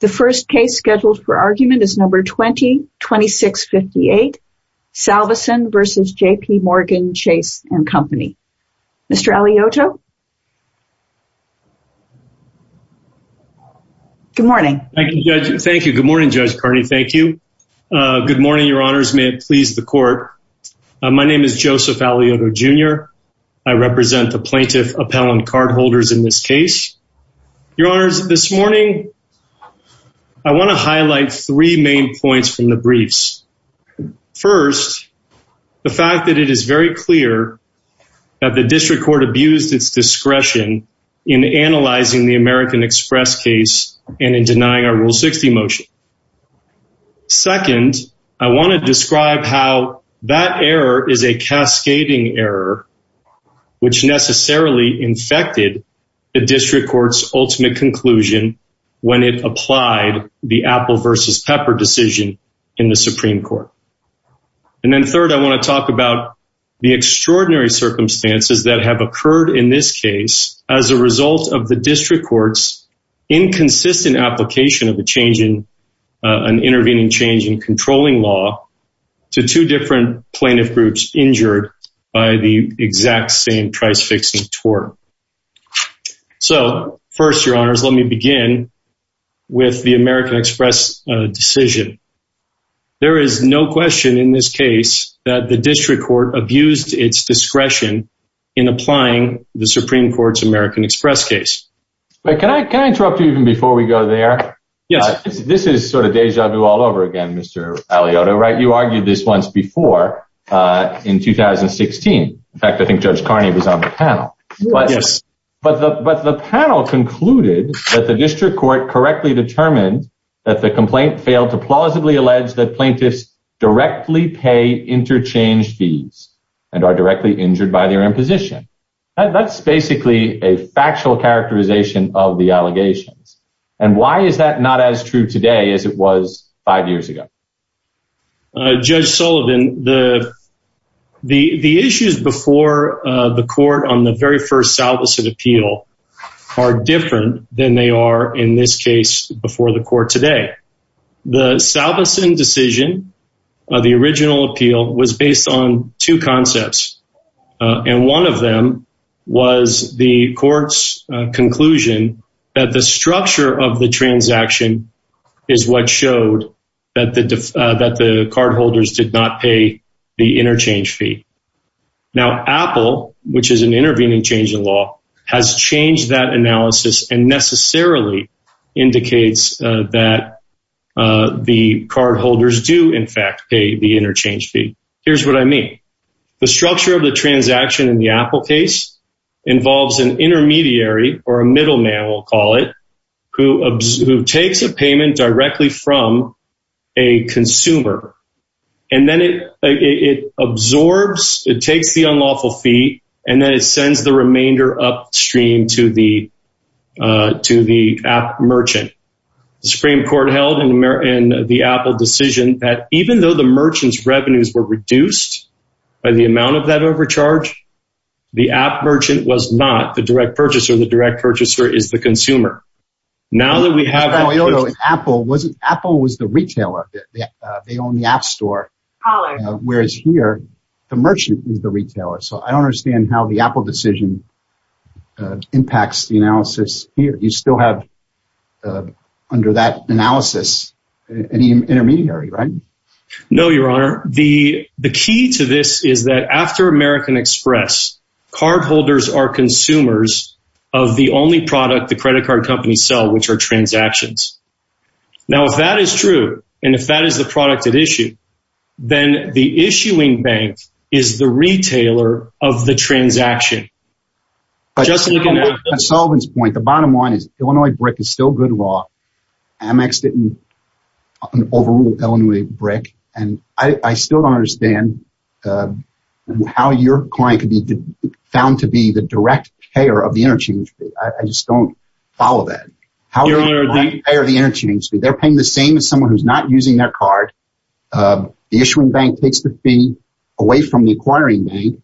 The first case scheduled for argument is number 20-2658, Salveson v. JP Morgan Chase & Co. Mr. Alioto. Good morning. Thank you, Judge. Thank you. Good morning, Judge Kearney. Thank you. Uh, good morning, your honors. May it please the court. My name is Joseph Alioto Jr. I represent the plaintiff appellant cardholders in this case. Your honors, this morning, I want to highlight three main points from the briefs. First, the fact that it is very clear that the district court abused its discretion in analyzing the American Express case and in denying our rule 60 motion. Second, I want to describe how that error is a cascading error, which necessarily infected the district court's ultimate conclusion when it applied the apple versus pepper decision in the Supreme court. And then third, I want to talk about the extraordinary circumstances that have occurred in this case as a result of the district court's inconsistent application of the change in, uh, an intervening change in controlling law to two different plaintiff groups injured by the exact same price fixing tort. So first, your honors, let me begin with the American Express decision. There is no question in this case that the district court abused its discretion in applying the Supreme court's American Express case, but can I, can I interrupt you even before we go there? Yeah, this is sort of deja vu all over again, Mr. Alioto, right? You argued this once before, uh, in 2016. In fact, I think judge Carney was on the panel, but the, but the panel concluded that the district court correctly determined that the complaint failed to plausibly allege that plaintiffs directly pay interchange fees and are directly injured by their imposition. That's basically a factual characterization of the allegations. And why is that not as true today as it was five years ago? Uh, judge Sullivan, the, the, the issues before, uh, the court on the very first Salveson appeal are different than they are in this case before the court today. The Salveson decision, uh, the original appeal was based on two concepts. Uh, and one of them was the court's conclusion that the structure of the that the cardholders did not pay the interchange fee. Now Apple, which is an intervening change in law has changed that analysis and necessarily indicates that, uh, the cardholders do in fact pay the interchange fee. Here's what I mean. The structure of the transaction in the Apple case involves an intermediary or a consumer, and then it, it absorbs, it takes the unlawful fee and then it sends the remainder upstream to the, uh, to the app merchant, the Supreme court held in America and the Apple decision that even though the merchant's revenues were reduced by the amount of that overcharge, the app merchant was not the direct purchaser, the direct purchaser is the consumer. Now that we have Apple wasn't, Apple was the retailer. They own the app store, whereas here the merchant is the retailer. So I don't understand how the Apple decision, uh, impacts the analysis here. You still have, uh, under that analysis, any intermediary, right? No, Your Honor. The, the key to this is that after American Express, cardholders are transactions. Now, if that is true, and if that is the product at issue, then the issuing bank is the retailer of the transaction. Just looking at the solvents point. The bottom line is Illinois brick is still good law. AmEx didn't overrule Illinois brick. And I still don't understand, uh, how your client could be found to be the direct payer of the interchange fee. I just don't follow that. How are the interchange fee? They're paying the same as someone who's not using their card. Uh, the issuing bank takes the fee away from the acquiring bank.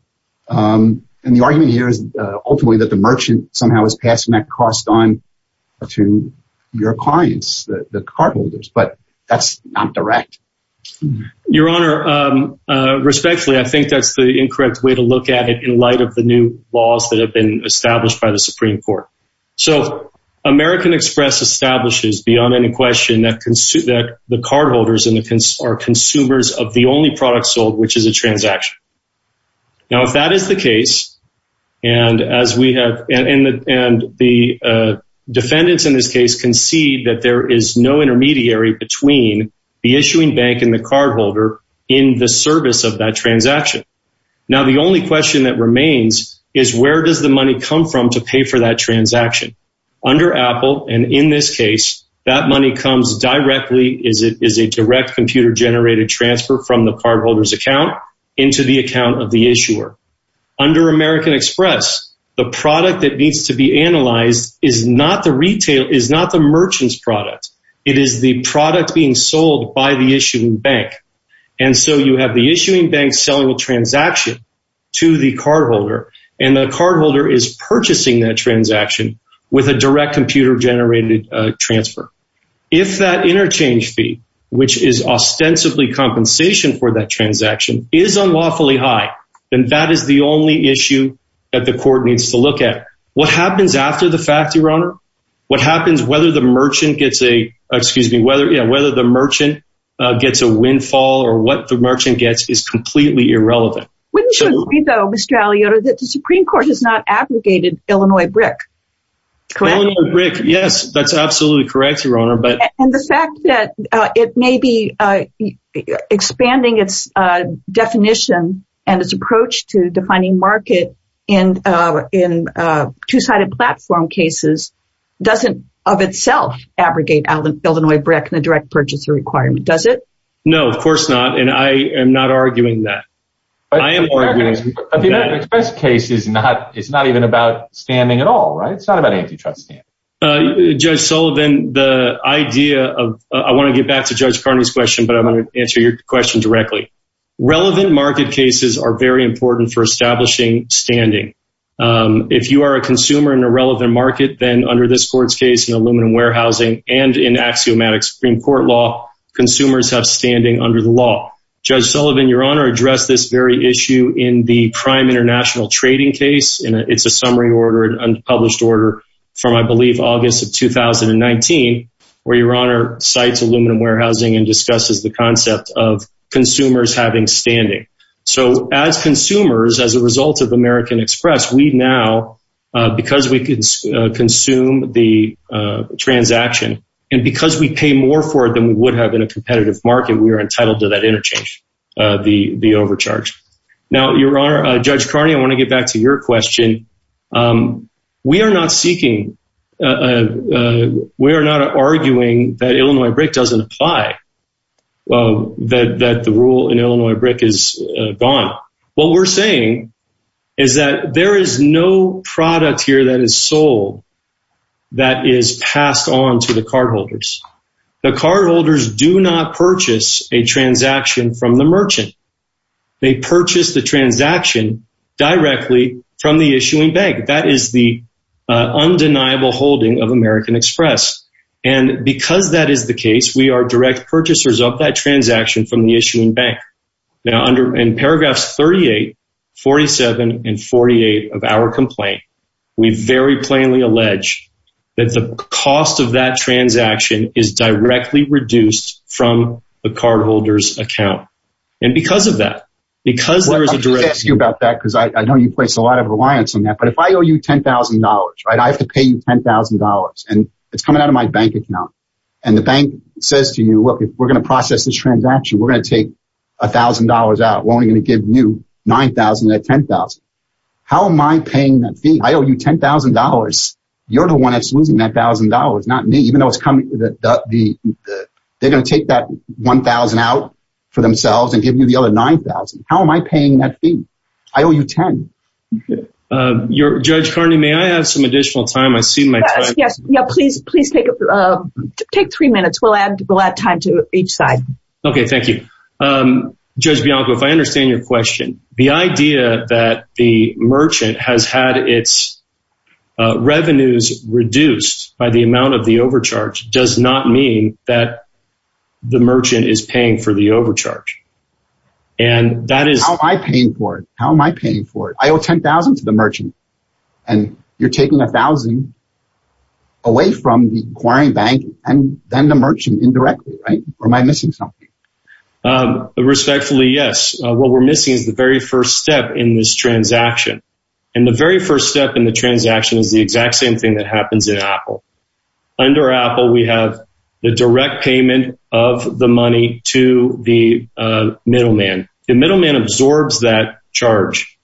Um, and the argument here is, uh, ultimately that the merchant somehow is passing that cost on to your clients, the cardholders, but that's not direct. Your Honor. Um, uh, respectfully, I think that's the incorrect way to look at it in light of the new laws that have been established by the Supreme court. So American express establishes beyond any question that can suit that the cardholders and the cons are consumers of the only product sold, which is a transaction. Now, if that is the case, and as we have, and the, and the, uh, defendants in this case concede that there is no intermediary between the issuing bank and the cardholder in the service of that transaction. Now, the only question that remains is where does the money come from to pay for that transaction under Apple? And in this case, that money comes directly is it is a direct computer generated transfer from the cardholders account into the account of the issuer. Under American express, the product that needs to be analyzed is not the retail is not the merchant's product. It is the product being sold by the issuing bank. And so you have the issuing bank selling a transaction to the cardholder and the transaction with a direct computer generated transfer. If that interchange fee, which is ostensibly compensation for that transaction is unlawfully high, then that is the only issue that the court needs to look at what happens after the fact, your honor, what happens, whether the merchant gets a, excuse me, whether, you know, whether the merchant gets a windfall or what the merchant gets is completely irrelevant. Wouldn't you agree though, Mr. Illinois brick. Yes, that's absolutely correct. Your honor. But the fact that it may be expanding its definition and its approach to defining market in, uh, in, uh, two-sided platform cases doesn't of itself abrogate out of Illinois brick and the direct purchaser requirement. Does it? No, of course not. And I am not arguing that. I am arguing that the express case is not, it's not even about standing at all. Right. It's not about antitrust stand. Uh, judge Sullivan, the idea of, I want to get back to judge Carney's question, but I'm going to answer your question directly. Relevant market cases are very important for establishing standing. Um, if you are a consumer in a relevant market, then under this court's case in aluminum warehousing and in axiomatic Supreme court law, consumers have standing under the law, judge Sullivan, your honor addressed this very issue in the prime international trading case. And it's a summary order and unpublished order from, I believe, August of 2019, where your honor sites, aluminum warehousing, and discusses the concept of consumers having standing. So as consumers, as a result of American express, we now, uh, because we can consume the, uh, transaction. And because we pay more for it than we would have in a competitive market, we are entitled to that interchange, uh, the, the overcharge. Now, your honor, judge Carney, I want to get back to your question. Um, we are not seeking, uh, uh, we are not arguing that Illinois brick doesn't apply, uh, that, that the rule in Illinois brick is gone. What we're saying is that there is no product here that is sold that is passed on to the cardholders. The cardholders do not purchase a transaction from the merchant. They purchase the transaction directly from the issuing bank. That is the undeniable holding of American express. And because that is the case, we are direct purchasers of that transaction from the issuing bank. Now under in paragraphs 38, 47, and 48 of our complaint, we very plainly that the cost of that transaction is directly reduced from the cardholders account and because of that, because there is a direct you about that. Cause I know you place a lot of reliance on that, but if I owe you $10,000, right? I have to pay you $10,000 and it's coming out of my bank account. And the bank says to you, look, if we're going to process this transaction, we're going to take a thousand dollars out. We're only going to give you 9,000 at 10,000. How am I paying that fee? I owe you $10,000. You're the one that's losing that thousand dollars. Not me, even though it's coming, they're going to take that 1,000 out for themselves and give you the other 9,000. How am I paying that fee? I owe you 10. Um, you're judge Carney. May I have some additional time? I see my, yeah, please, please take, uh, take three minutes. We'll add, we'll add time to each side. Okay. Thank you. Um, judge Bianco, if I understand your question, the idea that the merchant has had its, uh, revenues reduced by the amount of the overcharge does not mean that the merchant is paying for the overcharge and that is how am I paying for it, how am I paying for it? I owe 10,000 to the merchant. And you're taking a thousand away from the acquiring bank and then the merchant indirectly, right? Or am I missing something? Um, respectfully, yes. Uh, what we're missing is the very first step in this transaction. And the very first step in the transaction is the exact same thing that happens in Apple. Under Apple, we have the direct payment of the money to the, uh, middleman. The middleman absorbs that charge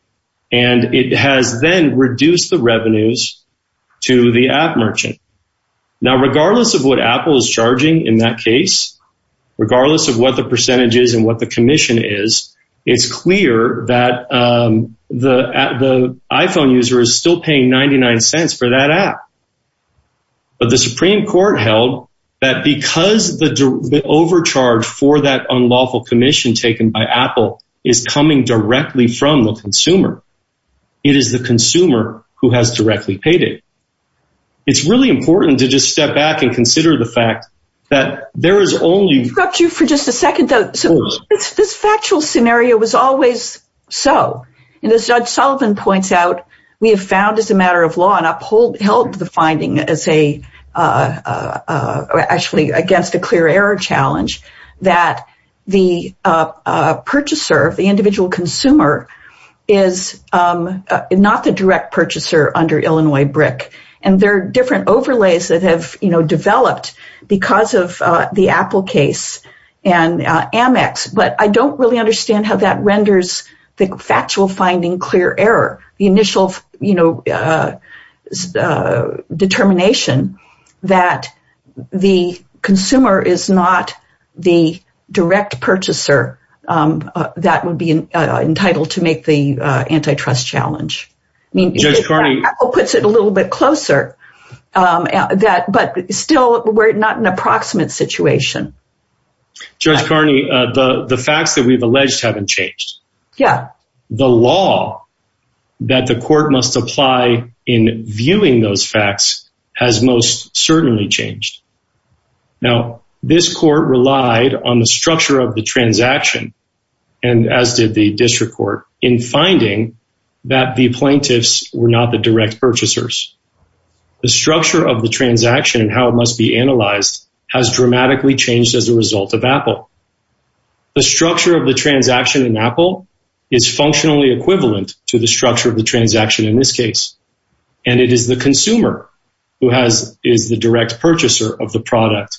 and it has then reduced the revenues to the app merchant. Now, regardless of what Apple is charging in that case, regardless of what the iPhone user is still paying 99 cents for that app, but the Supreme court held that because the, the overcharge for that unlawful commission taken by Apple is coming directly from the consumer. It is the consumer who has directly paid it. It's really important to just step back and consider the fact that there is only- Can I interrupt you for just a second though? So this factual scenario was always so, and as judge Sullivan points out, we have found as a matter of law and uphold held the finding as a, uh, uh, actually against a clear error challenge that the, uh, uh, purchaser of the individual consumer is, um, not the direct purchaser under Illinois brick. And there are different overlays that have developed because of the Apple case and, uh, Amex, but I don't really understand how that renders the factual finding clear error, the initial, you know, uh, uh, determination that the consumer is not the direct purchaser, um, uh, that would be, uh, entitled to make the, uh, antitrust challenge. I mean, Apple puts it a little bit closer, um, that, but still we're not in an approximate situation. Judge Carney, uh, the, the facts that we've alleged haven't changed. Yeah. The law that the court must apply in viewing those facts has most certainly changed. Now, this court relied on the structure of the transaction and as did the district court in finding that the plaintiffs were not the direct purchasers. The structure of the transaction and how it must be analyzed has dramatically changed as a result of Apple. The structure of the transaction in Apple is functionally equivalent to the structure of the transaction in this case. And it is the consumer who has, is the direct purchaser of the product,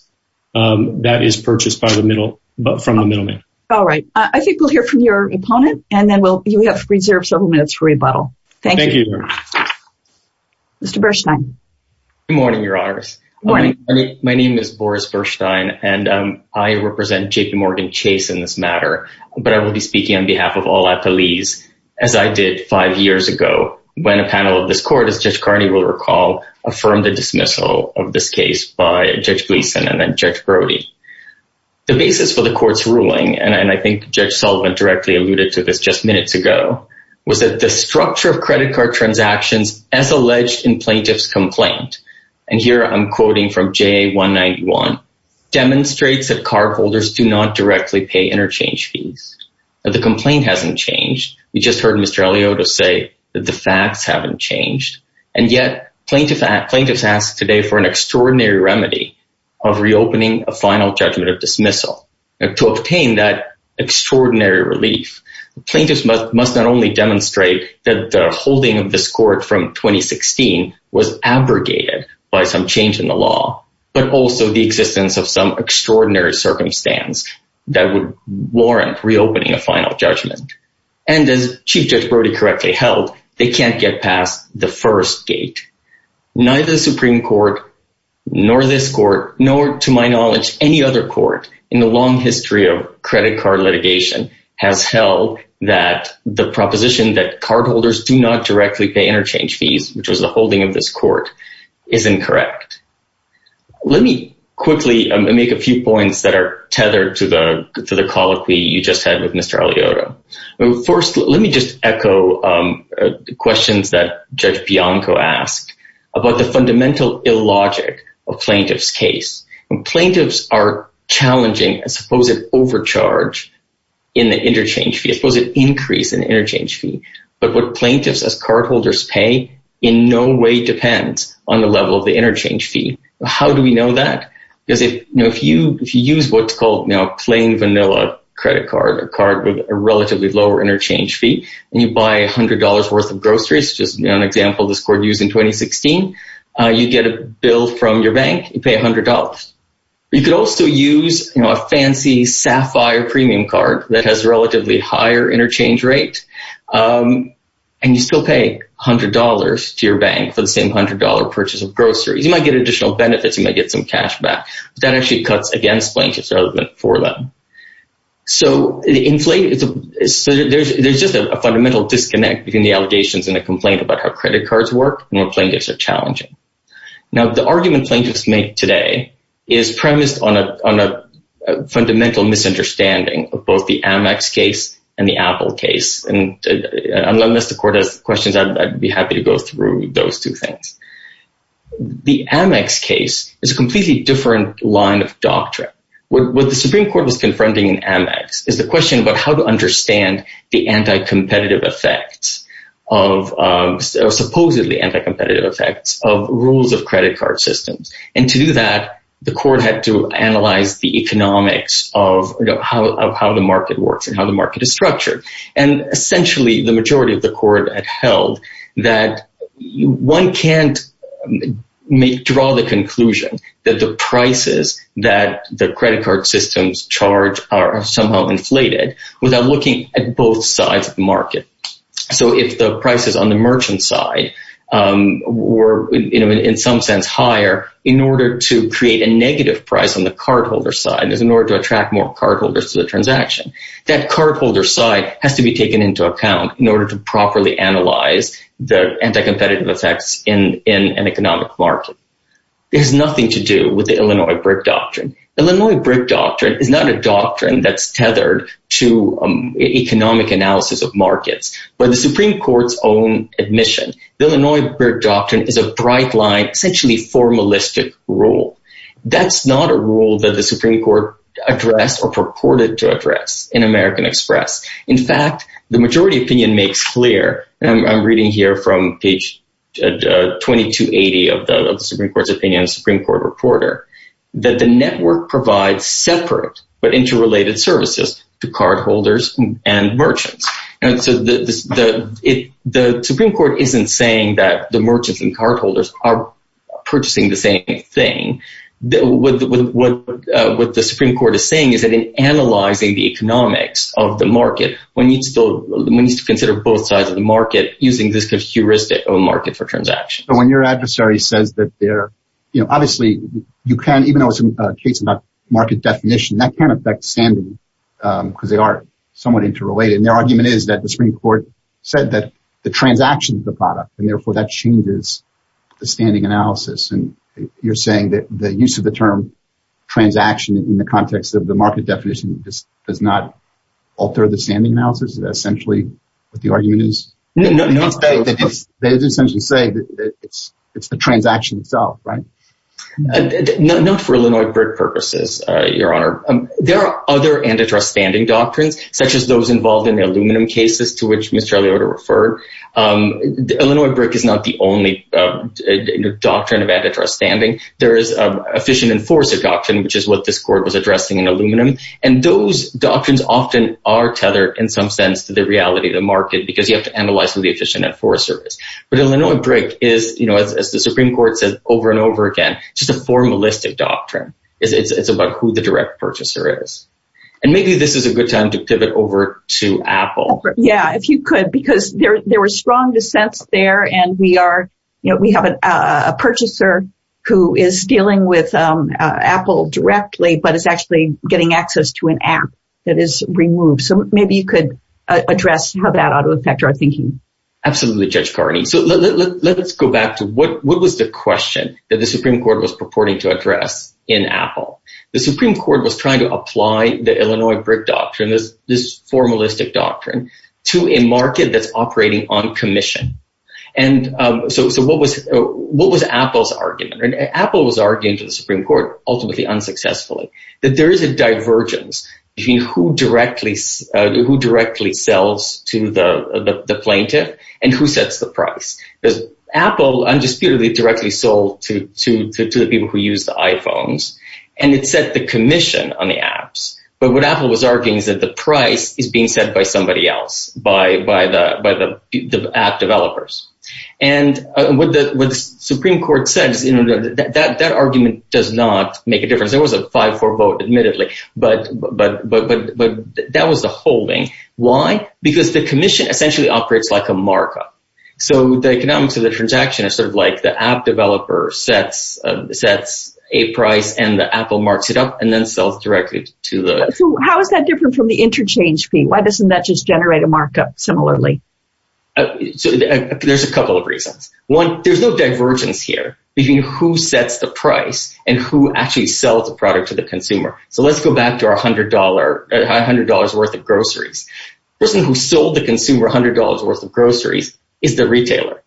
um, that is purchased by the middle, but from the middleman. All right. I think we'll hear from your opponent and then we'll, you have reserved several minutes for rebuttal. Thank you. Mr. Bershteyn. Good morning, your honors. Morning. My name is Boris Bershteyn and, um, I represent JPMorgan Chase in this matter, but I will be speaking on behalf of all Applees as I did five years ago when a panel of this court, as Judge Carney will recall, affirmed the dismissal of this case by Judge Gleason and then Judge Brody. The basis for the court's ruling, and I think Judge Sullivan directly alluded to this just minutes ago, was that the structure of credit card transactions as alleged in plaintiff's complaint. And here I'm quoting from JA191, demonstrates that cardholders do not directly pay interchange fees. The complaint hasn't changed. We just heard Mr. Eliott say that the facts haven't changed. And yet plaintiff, plaintiffs asked today for an extraordinary remedy of reopening a final judgment of dismissal. And to obtain that extraordinary relief, plaintiffs must not only demonstrate that the holding of this court from 2016 was abrogated by some change in the law, but also the existence of some extraordinary circumstance that would warrant reopening a final judgment. And as Chief Judge Brody correctly held, they can't get past the first gate. Neither the Supreme Court, nor this court, nor to my knowledge, any other court in the long history of credit card litigation has held that the proposition that cardholders do not directly pay interchange fees, which was the holding of this court, is incorrect. Let me quickly make a few points that are tethered to the colloquy you just had with Mr. Eliott. First, let me just echo the questions that Judge Bianco asked about the fundamental illogic of plaintiff's case. But what plaintiffs as cardholders pay in no way depends on the level of the interchange fee. How do we know that? Because if you use what's called plain vanilla credit card, a card with a relatively lower interchange fee, and you buy $100 worth of groceries, just an example this court used in 2016, you get a bill from your bank, you pay $100. You could also use a fancy Sapphire premium card that has relatively higher interchange rate, and you still pay $100 to your bank for the same $100 purchase of groceries. You might get additional benefits. You might get some cash back, but that actually cuts against plaintiffs rather than for them. So there's just a fundamental disconnect between the allegations and the complaint about how credit cards work and what plaintiffs are challenging. Now, the argument plaintiffs make today is premised on a fundamental misunderstanding of both the Amex case and the Apple case. And unless the court has questions, I'd be happy to go through those two things. The Amex case is a completely different line of doctrine. What the Supreme Court was confronting in Amex is the question about how to understand the anti-competitive effects of supposedly anti-competitive effects of rules of credit card systems. And to do that, the court had to analyze the economics of how the market works and how the market is structured. And essentially, the majority of the court had held that one can't draw the conclusion that the prices that the credit card systems charge are somehow inflated without looking at both sides of the market. So if the prices on the merchant side were, in some sense, higher in order to create a negative price on the cardholder side, in order to attract more cardholders to the transaction, that cardholder side has to be taken into account in order to properly analyze the anti-competitive effects in an economic market. There's nothing to do with the Illinois BRIC doctrine. Illinois BRIC doctrine is not a doctrine that's tethered to economic analysis of the Supreme Court's own admission. The Illinois BRIC doctrine is a bright line, essentially formalistic rule. That's not a rule that the Supreme Court addressed or purported to address in American Express. In fact, the majority opinion makes clear, and I'm reading here from page 2280 of the Supreme Court's opinion, the Supreme Court reporter, that the network provides separate but interrelated services to cardholders and the Supreme Court isn't saying that the merchants and cardholders are purchasing the same thing. What the Supreme Court is saying is that in analyzing the economics of the market, one needs to consider both sides of the market using this kind of heuristic of market for transaction. But when your adversary says that they're, you know, obviously you can't, even though it's a case about market definition, that can't affect Sandy because they are somewhat interrelated. And their argument is that the Supreme Court said that the transaction is the product, and therefore that changes the standing analysis. And you're saying that the use of the term transaction in the context of the market definition does not alter the standing analysis? Is that essentially what the argument is? No, no, no. They essentially say that it's the transaction itself, right? Not for Illinois BRIC purposes, Your Honor. There are other antitrust standing doctrines, such as those involved in the aluminum cases to which Mr. Elioda referred. Illinois BRIC is not the only doctrine of antitrust standing. There is an efficient enforcer doctrine, which is what this court was addressing in aluminum. And those doctrines often are tethered in some sense to the reality of the market because you have to analyze who the efficient enforcer is. But Illinois BRIC is, you know, as the Supreme Court said over and over again, just a formalistic doctrine. It's about who the direct purchaser is. And maybe this is a good time to pivot over to Apple. Yeah, if you could, because there were strong dissents there. And we are, you know, we have a purchaser who is dealing with Apple directly, but is actually getting access to an app that is removed. So maybe you could address how that ought to affect our thinking. Absolutely, Judge Carney. So let's go back to what was the question that the Supreme Court was purporting to Apple. The Supreme Court was trying to apply the Illinois BRIC doctrine, this formalistic doctrine, to a market that's operating on commission. And so what was Apple's argument? And Apple was arguing to the Supreme Court, ultimately unsuccessfully, that there is a divergence between who directly sells to the plaintiff and who sets the price. Because Apple undisputedly directly sold to the people who use the iPhones and it set the commission on the apps. But what Apple was arguing is that the price is being set by somebody else, by the app developers. And what the Supreme Court says, you know, that argument does not make a difference. There was a 5-4 vote, admittedly, but that was the holding. Why? Because the commission essentially operates like a markup. So the economics of the transaction is sort of like the app developer sets a price and the Apple marks it up and then sells directly to the... So how is that different from the interchange fee? Why doesn't that just generate a markup similarly? So there's a couple of reasons. One, there's no divergence here between who sets the price and who actually sells the product to the consumer. So let's go back to $100 worth of groceries. The person who sold the consumer $100 worth of groceries is the retailer.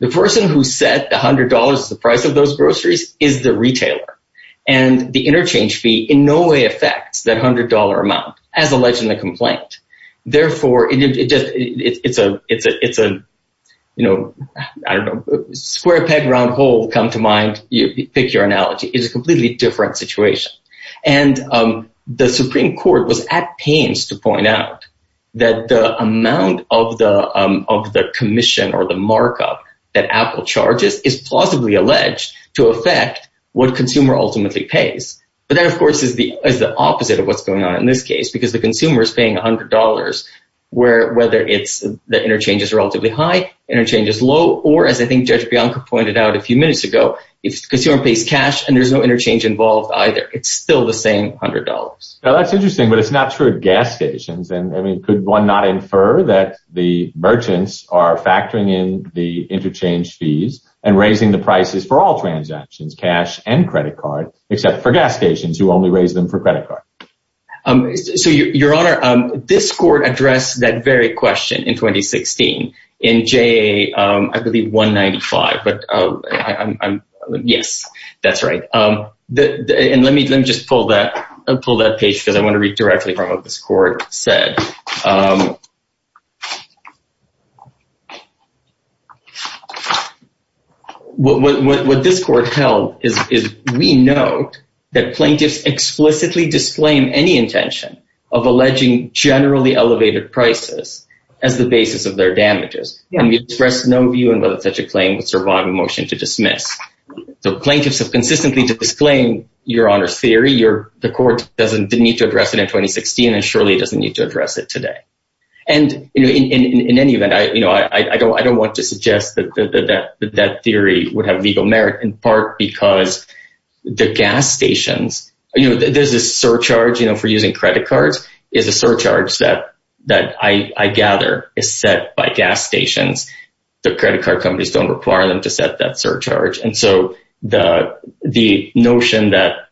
The person who set the $100, the price of those groceries, is the retailer. And the interchange fee in no way affects that $100 amount as alleged in the complaint. Therefore, it's a, you know, I don't know, square peg, round hole come to mind, you pick your analogy. It's a completely different situation. And the Supreme Court was at pains to point out that the amount of the of the commission or the markup that Apple charges is plausibly alleged to affect what consumer ultimately pays. But that, of course, is the opposite of what's going on in this case, because the consumer is paying $100, whether it's the interchange is relatively high, interchange is low, or as I think Judge Bianco pointed out a few minutes ago, if the consumer pays cash and there's no interchange involved, either, it's still the same $100. Now, that's interesting, but it's not true at gas stations. And I mean, could one not infer that the merchants are factoring in the interchange fees and raising the prices for all transactions, cash and credit card, except for gas stations who only raise them for credit card? So, Your Honor, this court addressed that very question in 2016 in JA, I believe, 195. But yes, that's right. And let me just pull that page because I want to read directly from what this court said. What this court held is we note that plaintiffs explicitly disclaim any intention of alleging generally elevated prices as the basis of their damages. And we express no view on whether such a claim would survive a motion to dismiss. The plaintiffs have consistently disclaimed, Your Honor's theory, the court doesn't need to address it in 2016, and surely it doesn't need to address it today. And in any event, I don't want to suggest that that theory would have legal merit, in part because the gas stations, there's a surcharge for using credit cards, is a surcharge that I know that most gas stations, the credit card companies don't require them to set that surcharge. And so the notion that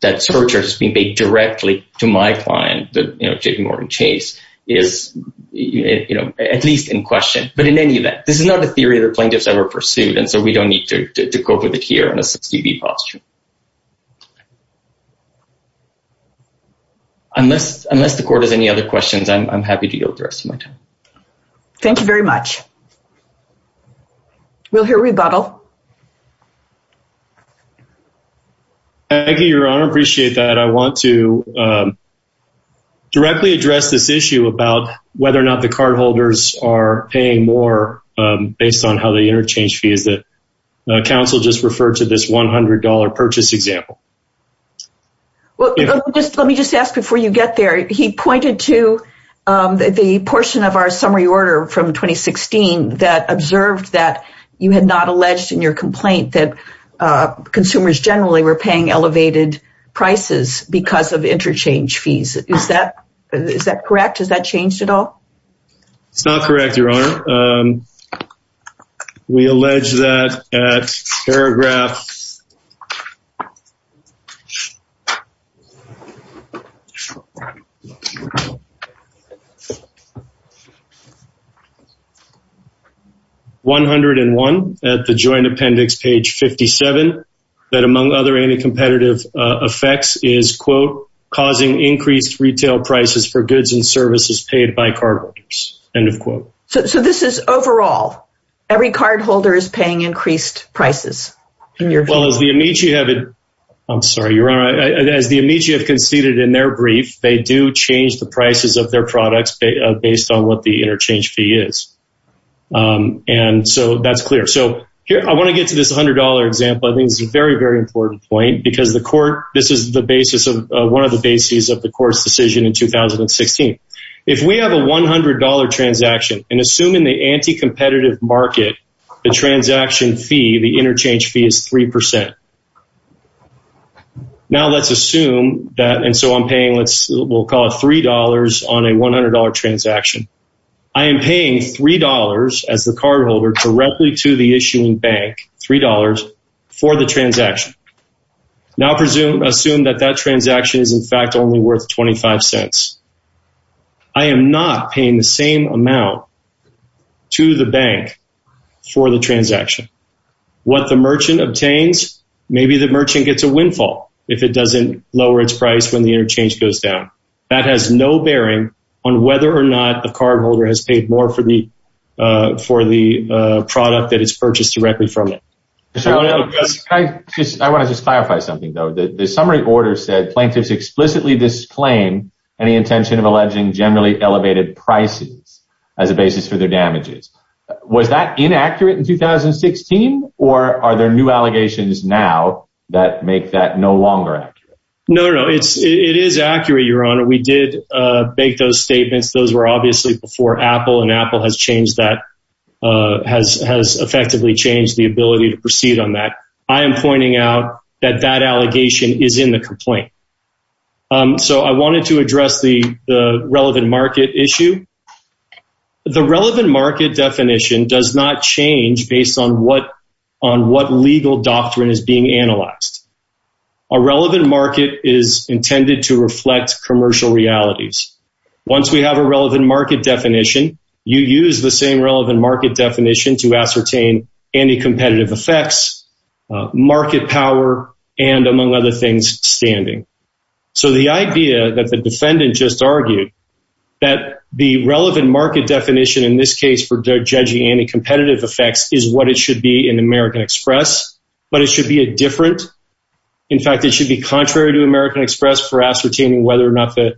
that surcharge is being paid directly to my client, you know, JPMorgan Chase, is, you know, at least in question, but in any event, this is not the theory that plaintiffs ever pursued. And so we don't need to go with it here in a substantive posture. Unless, unless the court has any other questions, I'm happy to yield the rest of my time. Thank you very much. We'll hear rebuttal. Thank you, Your Honor, I appreciate that. I want to directly address this issue about whether or not the cardholders are paying more based on how the interchange fee is that counsel just referred to this $100 per card. I'm not sure if that's a purchase example. Well, let me just ask before you get there, he pointed to the portion of our summary order from 2016 that observed that you had not alleged in your complaint that consumers generally were paying elevated prices because of interchange fees. Is that, is that correct? Has that changed at all? It's not correct, Your Honor. We allege that at paragraph 101 at the joint appendix, page 57, that among other anti-competitive effects is, quote, causing increased retail prices for goods and services paid by cardholders, end of quote. So this is overall, every cardholder is paying increased prices. Well, as the Amici have, I'm sorry, Your Honor, as the Amici have conceded in their brief, they do change the prices of their products based on what the interchange fee is. And so that's clear. So here, I want to get to this $100 example. I think it's a very, very important point because the court, this is the basis of one of the bases of the court's decision in 2016. If we have a $100 transaction, and assuming the anti-competitive market, the transaction fee, the interchange fee is 3%. Now let's assume that, and so I'm paying, let's, we'll call it $3 on a $100 transaction. I am paying $3 as the cardholder directly to the issuing bank, $3, for the transaction. Now presume, assume that that transaction is in fact only worth 25 cents. I am not paying the same amount to the bank for the transaction. What the merchant obtains, maybe the merchant gets a windfall if it doesn't lower its price when the interchange goes down. That has no bearing on whether or not the cardholder has paid more for the, for the product that is purchased directly from it. Can I just, I want to just clarify something, though. The summary order said, plaintiffs explicitly disclaim any intention of alleging generally elevated prices as a basis for their damages. Was that inaccurate in 2016, or are there new allegations now that make that no longer accurate? No, no, it is accurate, Your Honor. We did make those statements. Those were obviously before Apple, and Apple has changed that, has effectively changed the ability to proceed on that. I am pointing out that that allegation is in the complaint. So I wanted to address the relevant market issue. The relevant market definition does not change based on what, on what legal doctrine is being analyzed. A relevant market is intended to reflect commercial realities. Once we have a relevant market definition, you use the same relevant market definition to ascertain anti-competitive effects, market power, and among other things, standing. So the idea that the defendant just argued, that the relevant market definition in this case for judging anti-competitive effects is what it should be in American Express, but it should be a different, in fact, it should be contrary to American Express for ascertaining whether or not the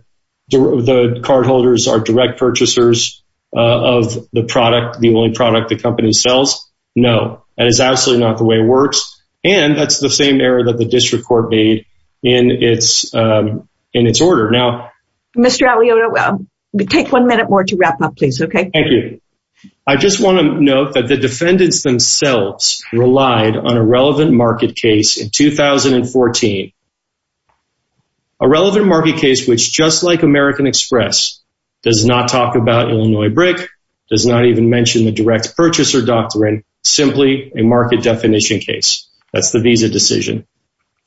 cardholders are direct purchasers of the product, the only product the company sells. No, that is absolutely not the way it works, and that's the same error that the district court made in its, in its order. Now, Mr. Aliotta, take one minute more to wrap up, please. Okay. Thank you. I just want to note that the defendants themselves relied on a relevant market case in 2014. A relevant market case, which just like American Express, does not talk about Illinois Brick, does not even mention the direct purchaser doctrine, simply a market definition case. That's the visa decision.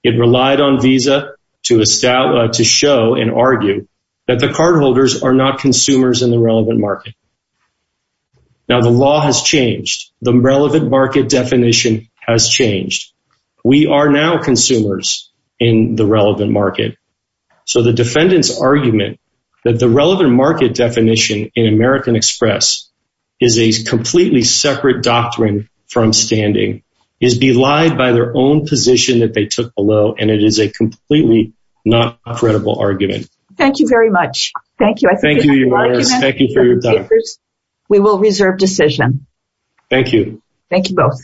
It relied on visa to show and argue that the cardholders are not consumers in the relevant market. Now, the law has changed. The relevant market definition has changed. We are now consumers in the relevant market. So the defendant's argument that the relevant market definition in American Express is a completely separate doctrine from standing is belied by their own position that they took below, and it is a completely not credible argument. Thank you very much. Thank you. Thank you for your time. We will reserve decision. Thank you. Thank you both.